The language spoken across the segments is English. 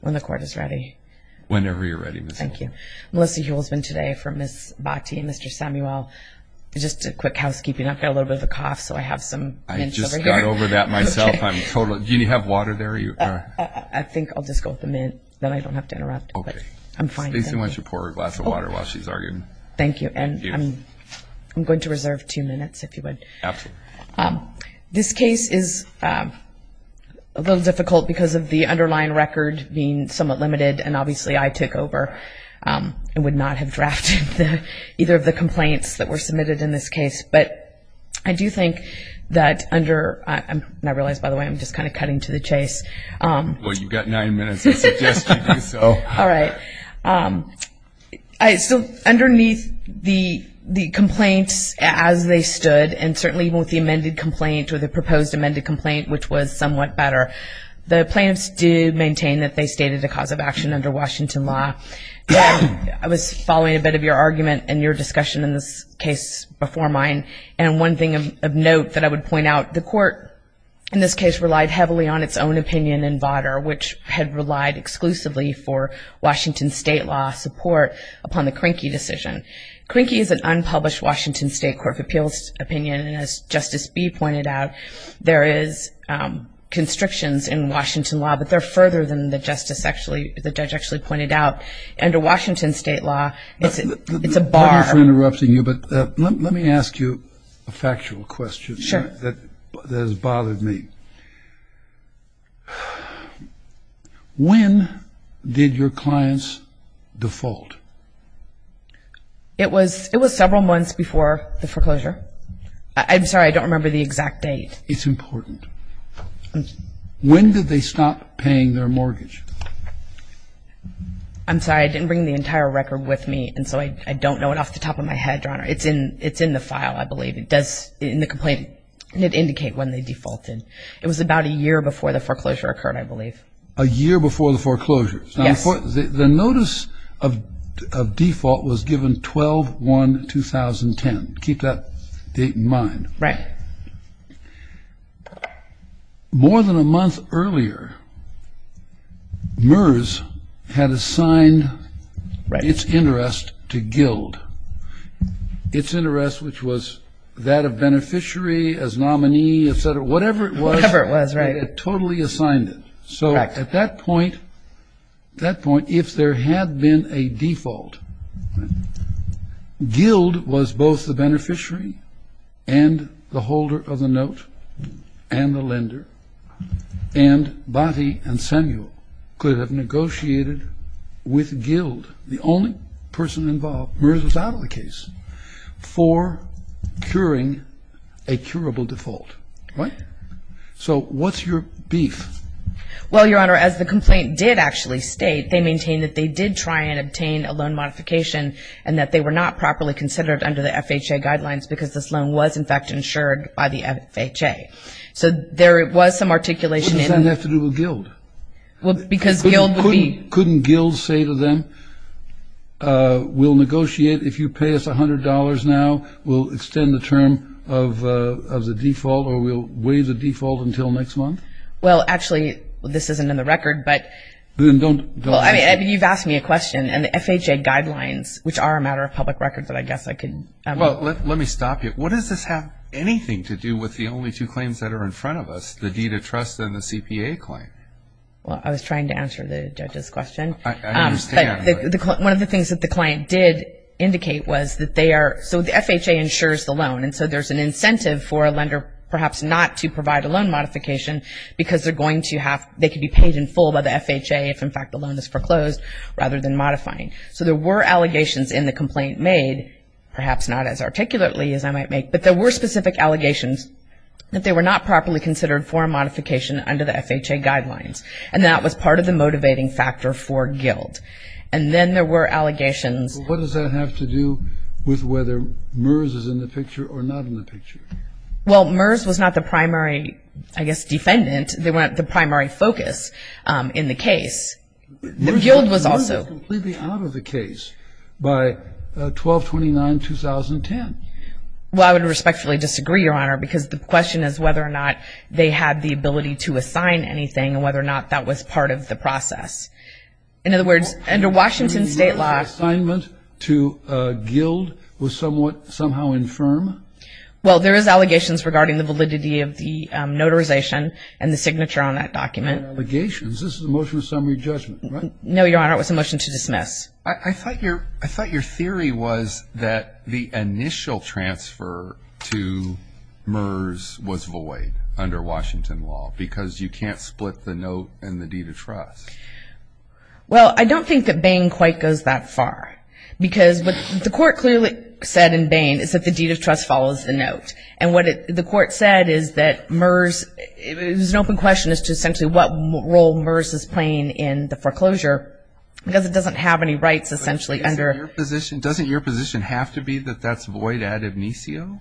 When the court is ready. Whenever you're ready. Thank you. Melissa Hewell has been today for Ms. Bhatti and Mr. Samuel. Just a quick housekeeping. I've got a little bit of a cough, so I have some mints over here. I just got over that myself. Do you have water there? I think I'll just go with the mint, then I don't have to interrupt. Okay. I'm fine. Stacy, why don't you pour her a glass of water while she's arguing. Thank you, and I'm going to reserve two minutes if you would. This case is a little difficult because of the underlying record being somewhat limited, and obviously I took over and would not have drafted either of the complaints that were submitted in this case. But I do think that under, and I realize by the way I'm just kind of cutting to the chase. Well you've got nine minutes, I suggest you do so. All right. So underneath the the complaints as they stood and certainly with the amended complaint or the proposed amended complaint, which was somewhat better, the plaintiffs do maintain that they stated a cause of action under Washington law. I was following a bit of your argument and your discussion in this case before mine, and one thing of note that I would point out, the court in this case relied heavily on its own opinion in Votter, which had relied exclusively for Washington state law support upon the Krinky decision. Krinky is an unpublished Washington state Court of Appeals opinion, and as Justice Bee pointed out, there is constrictions in Washington law, but they're further than the justice actually, the judge actually pointed out. Under Washington state law, it's a bar. Thank you for interrupting you, but let me ask you a factual question that has bothered me. When did your clients default? It was it was several months before the foreclosure. I'm sorry, I don't remember the exact date. It's important. When did they stop paying their mortgage? I'm sorry, I didn't bring the entire record with me, and so I don't know it off the top of my head, Your Honor. It's in it's in the file, I It was about a year before the foreclosure occurred, I believe. A year before the foreclosure. Yes. The notice of default was given 12-1-2010. Keep that date in mind. Right. More than a month earlier, MERS had assigned its interest to GILD, its totally assigned it. So at that point, if there had been a default, GILD was both the beneficiary and the holder of the note, and the lender, and Botti and Samuel could have negotiated with GILD, the only person involved, MERS was out of the case, for curing a curable default. Right. So what's your beef? Well, Your Honor, as the complaint did actually state, they maintain that they did try and obtain a loan modification, and that they were not properly considered under the FHA guidelines, because this loan was in fact insured by the FHA. So there was some articulation. What does that have to do with GILD? Well, because GILD... Couldn't GILD say to them, we'll negotiate. If you pay us $100 now, we'll extend the term of the default, or we'll waive the default until next month? Well, actually, this isn't in the record, but... Then don't... Well, I mean, you've asked me a question, and the FHA guidelines, which are a matter of public record that I guess I can... Well, let me stop you. What does this have anything to do with the only two claims that are in front of us, the deed of trust and the CPA claim? Well, I was trying to answer the judge's question. One of the things that the client did indicate was that they are... So the FHA insures the loan, and so there's an incentive for a lender perhaps not to provide a loan modification, because they're going to have... They could be paid in full by the FHA if in fact the loan is foreclosed, rather than modifying. So there were allegations in the complaint made, perhaps not as articulately as I might make, but there were specific allegations that they were not properly considered for a guidelines, and that was part of the motivating factor for Guild. And then there were allegations... What does that have to do with whether MERS is in the picture or not in the picture? Well, MERS was not the primary, I guess, defendant. They weren't the primary focus in the case. Guild was also... MERS was completely out of the case by 12-29-2010. Well, I would respectfully disagree, Your Honor, because the question is whether or not they had the ability to assign anything, and whether or not that was part of the process. In other words, under Washington state law... The assignment to Guild was somewhat, somehow, infirm? Well, there is allegations regarding the validity of the notarization and the signature on that document. Allegations? This is a motion of summary judgment, right? I thought your theory was that the initial transfer to MERS was void under Washington law, because you can't split the note and the deed of trust. Well, I don't think that Bain quite goes that far, because what the court clearly said in Bain is that the deed of trust follows the note. And what the court said is that MERS... It was an open question as to essentially what role in the foreclosure, because it doesn't have any rights, essentially, under... Doesn't your position have to be that that's void ad obitio?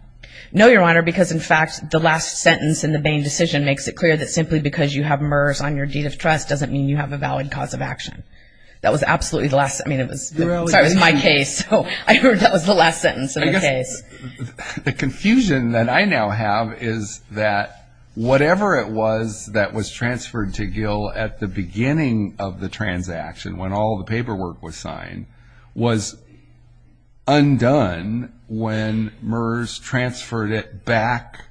No, Your Honor, because, in fact, the last sentence in the Bain decision makes it clear that simply because you have MERS on your deed of trust doesn't mean you have a valid cause of action. That was absolutely the last... I mean, it was my case, so I heard that was the last sentence of the case. The confusion that I now have is that whatever it was that was transferred to MERS, the signing of the transaction, when all the paperwork was signed, was undone when MERS transferred it back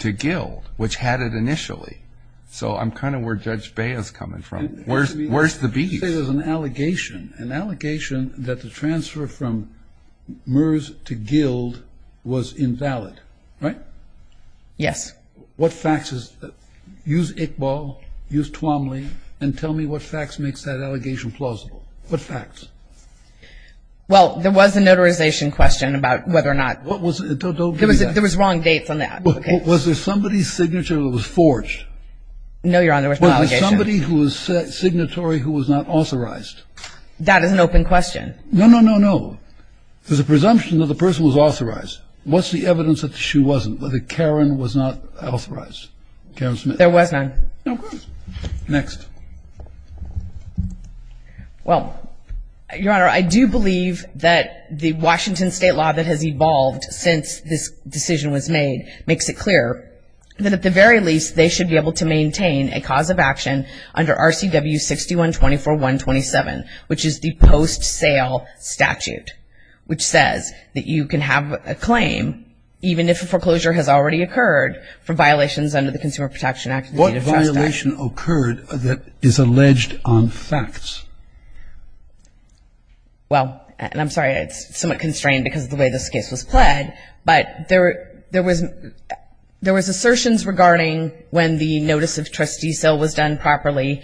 to GILD, which had it initially. So I'm kind of where Judge Bain is coming from. Where's the beef? You say there's an allegation, an allegation that the transfer from MERS to GILD was invalid, right? Yes. What facts is... Use Iqbal, use Tuomly, and tell me what facts makes that allegation plausible. What facts? Well, there was a notarization question about whether or not... Don't do that. There was wrong dates on that. Was there somebody's signature that was forged? No, Your Honor, there was no allegation. Was there somebody who was signatory who was not authorized? That is an open question. No, no, no, no. There's a presumption that the person was authorized. What's the evidence that she wasn't, that Karen was not authorized? Karen Smith. There was none. Next. Well, Your Honor, I do believe that the Washington State law that has evolved since this decision was made makes it clear that at the very least they should be able to maintain a cause of action under RCW 6124.127, which is the post-sale statute, which says that you can have a claim even if a foreclosure has already occurred for violations under the Consumer Protection Act. What violation occurred that is alleged on facts? Well, and I'm sorry, it's somewhat constrained because of the way this case was played, but there was assertions regarding when the notice of trustee services was a new trustee,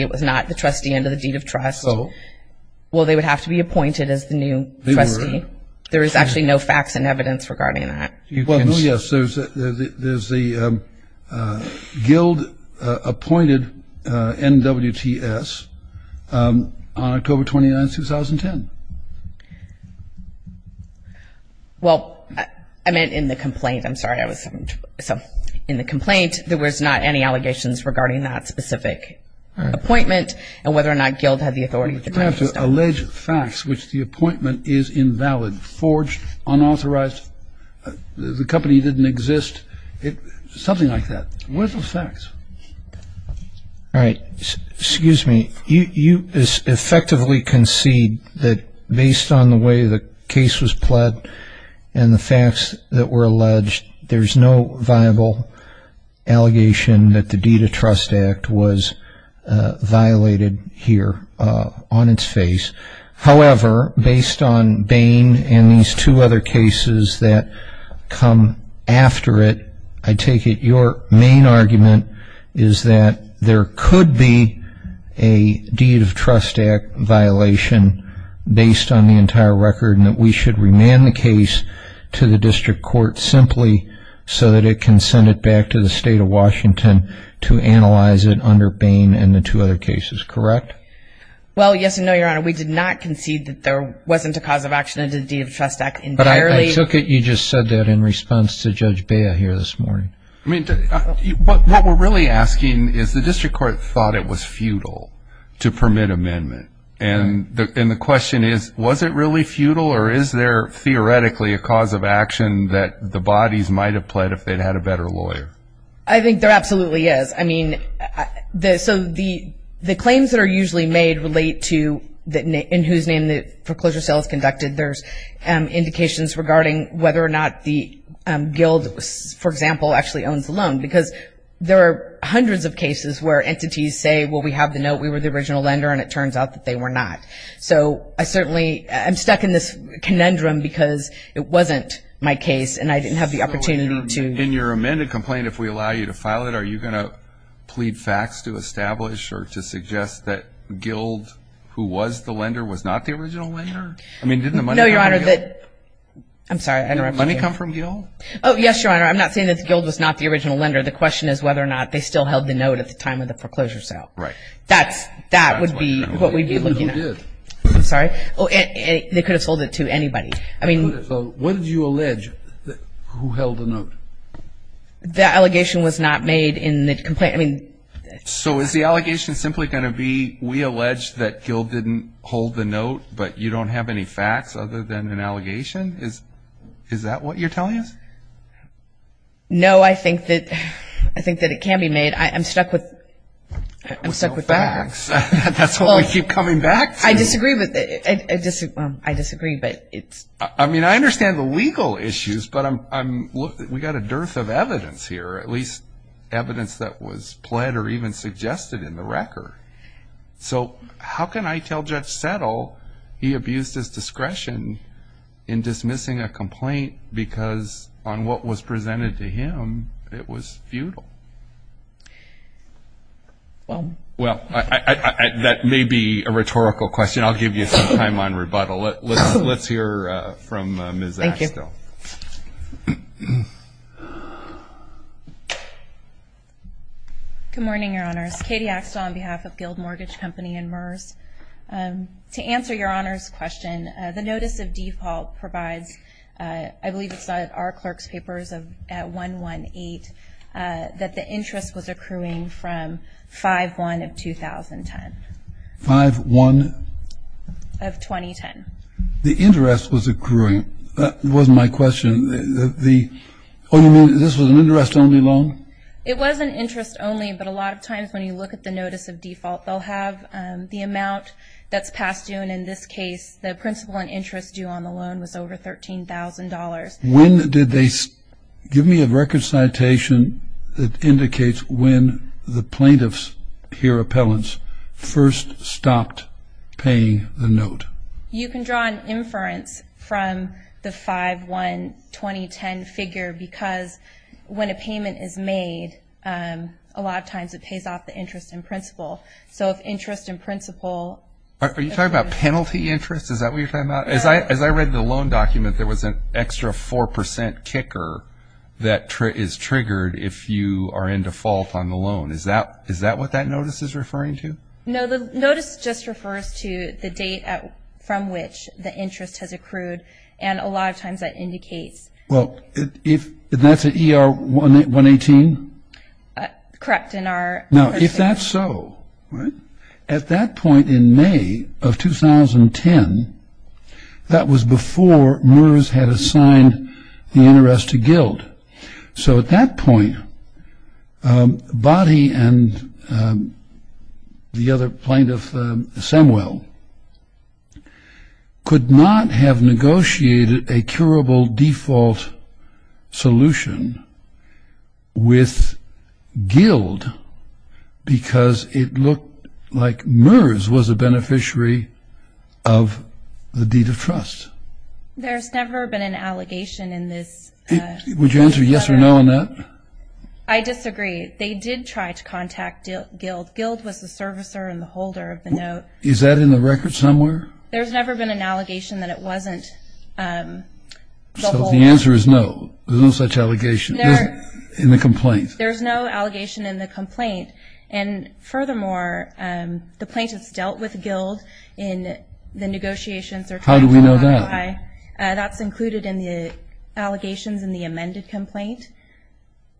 it was not the trustee under the deed of trust. So? Well, they would have to be appointed as the new trustee. They were. There is actually no facts and evidence regarding that. Well, no, yes. There's the guild-appointed NWTS on October 29, 2010. Well, I meant in the complaint. I'm sorry. In the complaint, there was not any allegations regarding that specific appointment and whether or not guild had the authority. You have to allege facts which the appointment is invalid, forged, unauthorized, the company didn't exist, something like that. Where's the facts? All right. Excuse me. You effectively concede that based on the way the case was played and the fact that there's no viable allegation that the deed of trust act was violated here on its face. However, based on Bain and these two other cases that come after it, I take it your main argument is that there could be a deed of trust act violation based on the entire record and that we should remand the case to the district court simply so that it can send it back to the state of Washington to analyze it under Bain and the two other cases, correct? Well, yes and no, Your Honor. We did not concede that there wasn't a cause of action under the deed of trust act entirely. But I took it you just said that in response to Judge Bea here this morning. I mean, what we're really asking is the district court thought it was futile to permit amendment and the question is, was it really futile or is there theoretically a cause of action that the bodies might have pled if they'd had a better lawyer? I think there absolutely is. I mean, so the claims that are usually made relate to in whose name the foreclosure sale is conducted, there's indications regarding whether or not the guild, for example, actually owns the loan because there are hundreds of cases where entities say, well, we have the note, we were the original lender and it turns out that they were not. So I certainly am stuck in this conundrum because it wasn't my case and I didn't have the opportunity to. So in your amended complaint, if we allow you to file it, are you going to plead facts to establish or to suggest that Guild, who was the lender, was not the original lender? I mean, didn't the money come from Guild? No, Your Honor. I'm sorry, I interrupted you. Did the money come from Guild? Oh, yes, Your Honor. I'm not saying that Guild was not the original lender. The question is whether or not they still held the note at the time of the foreclosure sale. Right. That would be what we'd be looking at. They did. I'm sorry. They could have sold it to anybody. They could have sold it. What did you allege who held the note? The allegation was not made in the complaint. So is the allegation simply going to be we allege that Guild didn't hold the note but you don't have any facts other than an allegation? Is that what you're telling us? No, I think that it can be made. I'm stuck with facts. That's what we keep coming back to. I disagree, but it's... I mean, I understand the legal issues, but we've got a dearth of evidence here, at least evidence that was pled or even suggested in the record. So how can I tell Judge Settle he abused his discretion in dismissing a complaint because on what was presented to him, it was futile? Well... Well, that may be a rhetorical question. I'll give you some time on rebuttal. Let's hear from Ms. Axtell. Thank you. Good morning, Your Honors. Katie Axtell on behalf of Guild Mortgage Company and MERS. To answer Your Honor's question, the notice of default provides, I believe it's in our clerk's papers at 118, that the interest was accruing from 5-1 of 2010. 5-1? Of 2010. The interest was accruing. That was my question. Oh, you mean this was an interest-only loan? It was an interest-only, but a lot of times when you look at the notice of default, they'll have the amount that's past due, and in this case, the When did they... Give me a record citation that indicates when the plaintiffs here, appellants, first stopped paying the note. You can draw an inference from the 5-1 2010 figure because when a payment is made, a lot of times it pays off the interest in principle. So if interest in principle... Are you talking about penalty interest? Is that what you're talking about? As I read the loan document, there was an extra 4% kicker that is triggered if you are in default on the loan. Is that what that notice is referring to? No, the notice just refers to the date from which the interest has accrued, and a lot of times that indicates... Well, if that's at ER 118? Correct, in our... Now, if that's so, at that point in May of 2010, that was before MERS had assigned the interest to Guild. So at that point, Boddy and the other plaintiff, Semwell, could not have negotiated a curable default solution with Guild because it looked like MERS was a beneficiary of the deed of trust. There's never been an allegation in this... Would you answer yes or no on that? I disagree. They did try to contact Guild. Guild was the servicer and the holder of the note. Is that in the record somewhere? There's never been an allegation that it wasn't... So the answer is no? There's no such allegation in the complaint? There's no allegation in the complaint, and furthermore, the plaintiffs dealt with Guild in the negotiations... How do we know that? That's included in the allegations in the amended complaint,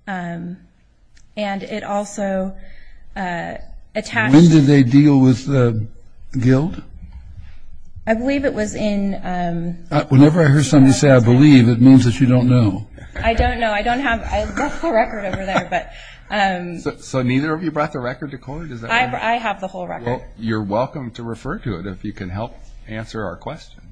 and it also attached... Guild? I believe it was in... Whenever I hear somebody say, I believe, it means that you don't know. I don't know. I left the record over there, but... So neither of you brought the record to court? I have the whole record. Well, you're welcome to refer to it if you can help answer our questions. Okay.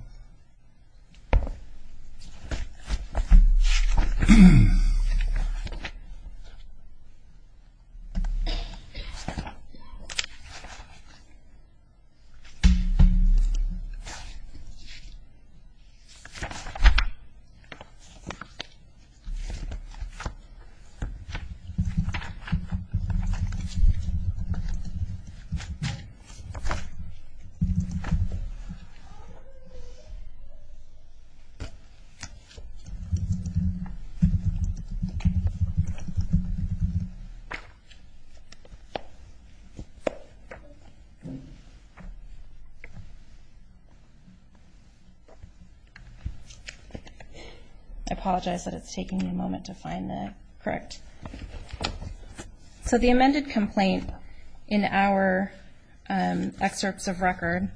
I apologize that it's taking me a moment to find the correct... So the amended complaint in our excerpts of record...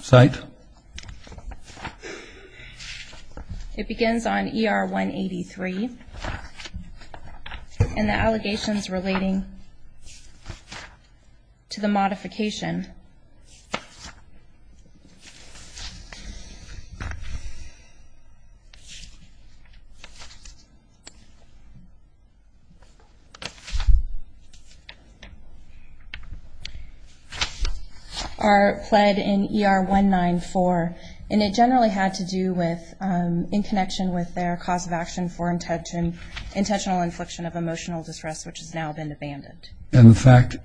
Cite. It begins on ER 183, and the allegations relating to the modification are pled in ER 194, and it generally had to do with, in connection with their cause of action for intentional infliction of emotional distress, which has now been abandoned. and the plaintiff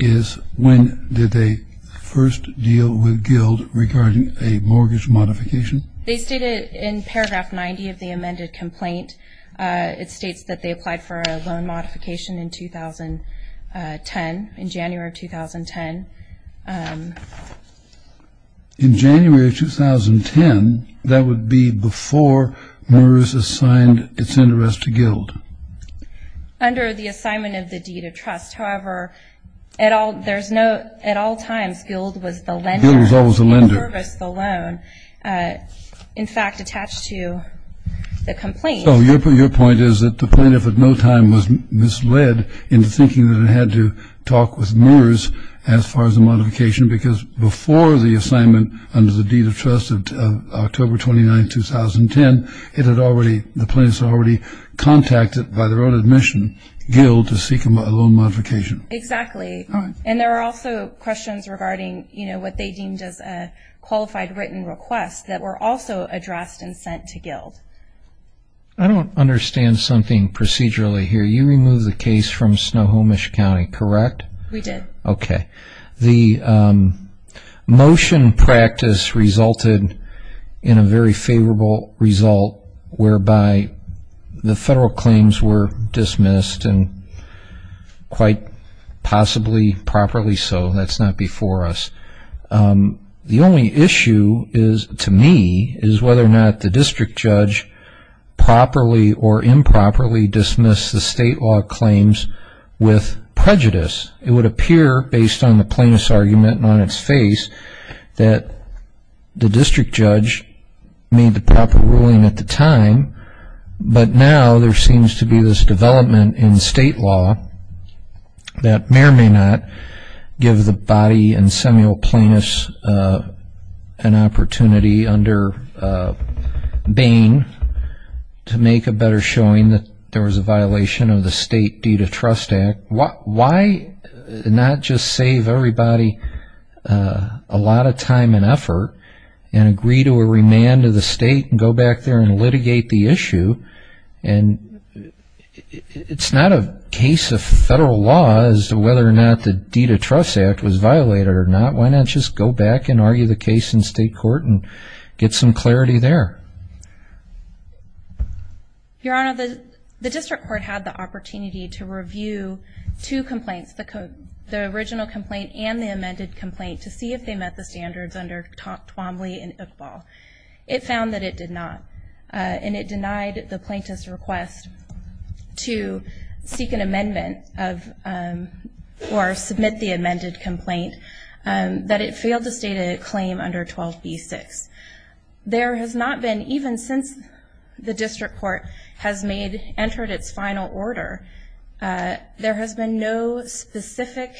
is in a state of emotional distress, did they first deal with Guild regarding a mortgage modification? They stated in paragraph 90 of the amended complaint, it states that they applied for a loan modification in 2010, in January of 2010. In January of 2010, that would be before Morris assigned its interest to Guild? Under the assignment of the deed of trust. However, at all times, Guild was the lender... Guild was always the lender. ...in service of the loan. In fact, attached to the complaint... So your point is that the plaintiff at no time was misled into thinking that it had to talk with Morris as far as the modification, because before the assignment under the deed of trust of October 29, 2010, the plaintiffs had already contacted, by their own admission, Guild to seek a loan modification? Exactly. And there were also questions regarding what they deemed as a qualified written request that were also addressed and sent to Guild. I don't understand something procedurally here. You removed the case from Snohomish County, correct? We did. Okay. The motion practice resulted in a very favorable result whereby the federal claims were dismissed and quite possibly properly so. That's not before us. The only issue to me is whether or not the district judge properly or improperly dismissed the state law claims with prejudice. It would appear, based on the plaintiff's argument and on its face, that the district judge made the proper ruling at the time, but now there seems to be this development in state law that may or may not give the body and seminal plaintiffs an opportunity under Bain to make a better showing that there was a violation of the state deed of trust act. Why not just save everybody a lot of time and effort and agree to a remand of the state and go back there and litigate the issue? And it's not a case of federal law as to whether or not the deed of trust act was violated or not. Why not just go back and argue the case in state court and get some clarity there? Your Honor, the district court had the opportunity to review two complaints, the original complaint and the amended complaint to see if they met the standards under Twombly and Iqbal. It found that it did not, and it denied the plaintiff's request to seek an amendment or submit the amended complaint that it failed to state a claim under 12b-6. There has not been, even since the district court has entered its final order, there has been no specific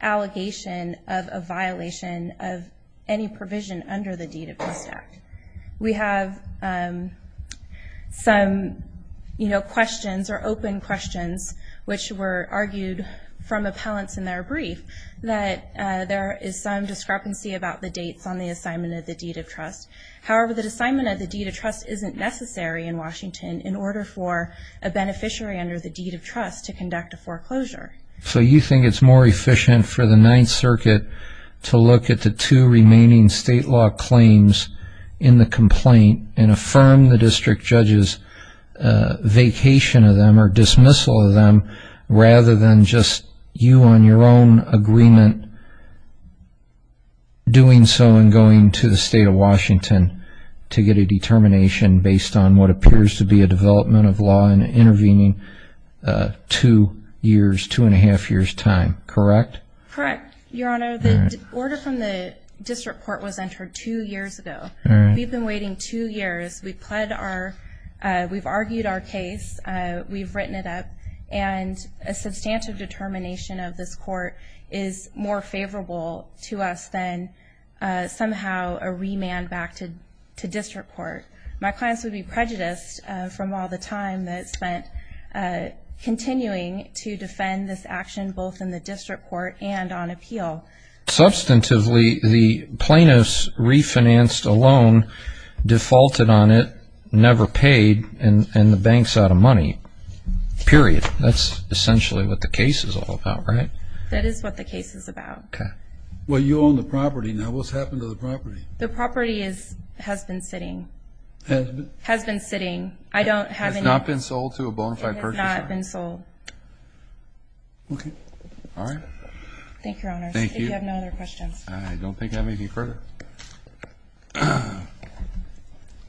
allegation of a violation of any provision under the deed of trust act. We have some questions, or open questions, which were argued from appellants in their brief that there is some discrepancy about the dates on the assignment of the deed of trust. However, the assignment of the deed of trust isn't necessary in Washington in order for a beneficiary under the deed of trust to conduct a foreclosure. So you think it's more efficient for the Ninth Circuit to look at the two remaining state law claims in the complaint and affirm the district judge's vacation of them or dismissal of them rather than just you on your own agreement doing so and going to the state of Washington to get a determination based on what appears to be a development of law and intervening two and a half years' time, correct? Correct, Your Honor. The order from the district court was entered two years ago. We've been waiting two years. We've argued our case. We've written it up. And a substantive determination of this court is more favorable to us than somehow a remand back to district court. My clients would be prejudiced from all the time that's spent continuing to defend this action both in the district court and on appeal. Substantively, the plaintiff's refinanced a loan, defaulted on it, never paid, and the bank's out of money. Period. That's essentially what the case is all about, right? That is what the case is about. Okay. Well, you own the property. Now, what's happened to the property? The property has been sitting. Has been? Has been sitting. I don't have any... It's not been sold to a bona fide purchaser? It has not been sold. Okay. All right. Thank you, Your Honor. Thank you. If you have no other questions. I don't think I have anything further.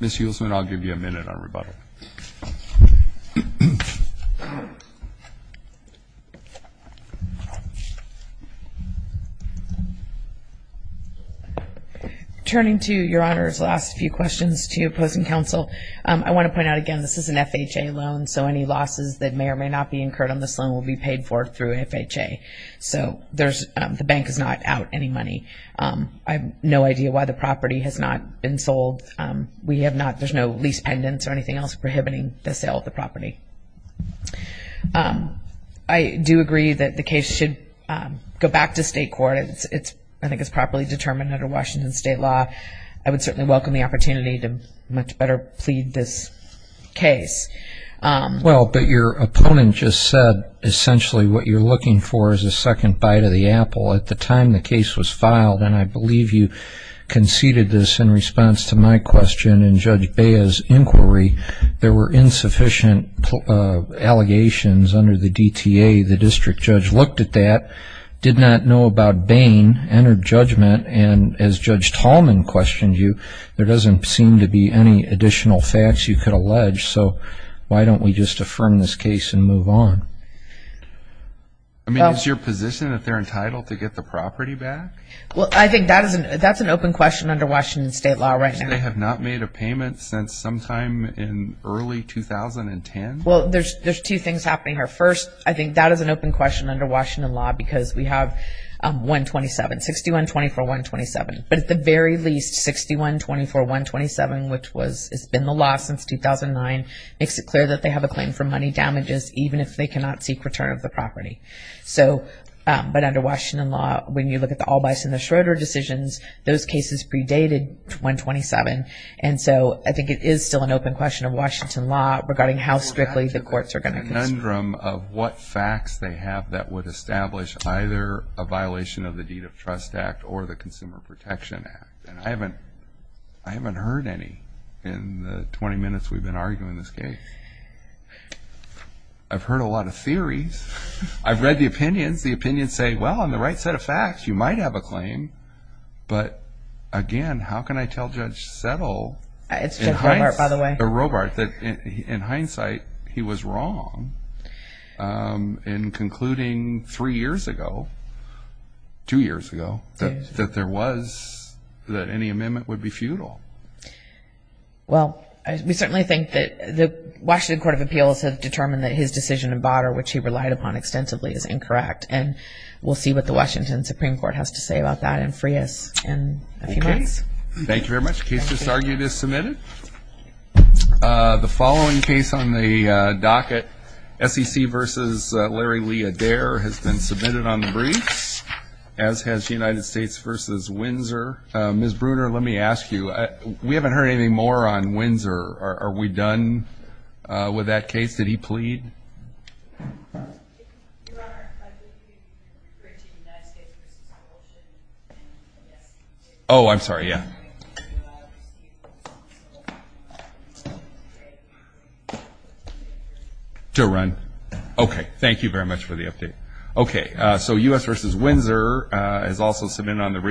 Ms. Hulsman, I'll give you a minute on rebuttal. Turning to Your Honor's last few questions to opposing counsel, I want to point out again, this is an FHA loan, so any losses that may or may not be incurred on this loan will be paid for through FHA. So, there's... The bank is not out any money. I have no idea why the property has not been sold. We have not... There's no lease pendants or anything else prohibiting the sale of the property. I do agree that the case should go back to state court. I think it's properly determined under Washington state law. I would certainly welcome the opportunity to much better plead this case. Well, but your opponent just said essentially what you're looking for is a second bite of the apple. At the time the case was filed, and I believe you conceded this in response to my question and Judge Bea's inquiry, there were insufficient allegations under the DTA. The district judge looked at that, did not know about Bain, entered judgment, and as Judge Tallman questioned you, there doesn't seem to be any additional facts you could allege, so why don't we just affirm this case and move on? I mean, is your position that they're entitled to get the property back? Well, I think that's an open question under Washington state law right now. They have not made a payment since sometime in early 2010? Well, there's two things happening here. First, I think that is an open question under Washington law because we have 127, 6124-127. But at the very least, 6124-127, which has been the law since 2009, makes it clear that they have a claim for money damages even if they cannot seek return of the property. But under Washington law, when you look at the Albice and the Schroeder decisions, those cases predated 127. And so I think it is still an open question of Washington law regarding how strictly the courts are going to... ...the conundrum of what facts they have that would establish either a violation of the Deed of Trust Act or the Consumer Protection Act. And I haven't heard any in the 20 minutes we've been arguing this case. I've heard a lot of theories. I've read the opinions. The opinions say, well, on the right set of facts, you might have a claim. But again, how can I tell Judge Settle... It's Judge Robart, by the way. ...or Robart that in hindsight he was wrong in concluding three years ago, two years ago, that there was... that any amendment would be futile. Well, we certainly think that the Washington Court of Appeals has determined that his decision in Bader which he relied upon extensively is incorrect. And we'll see what the Washington Supreme Court has to say about that and free us in a few months. Okay. Thank you very much. Case disargued is submitted. The following case on the docket, SEC versus Larry Lee Adair has been submitted on the briefs as has United States versus Windsor. Ms. Bruner, let me ask you, we haven't heard anything more on Windsor. Are we done with that case? Did he plead? Oh, I'm sorry. Yeah. To run? Okay. Thank you very much for the update. Okay, is also submitted on the briefs...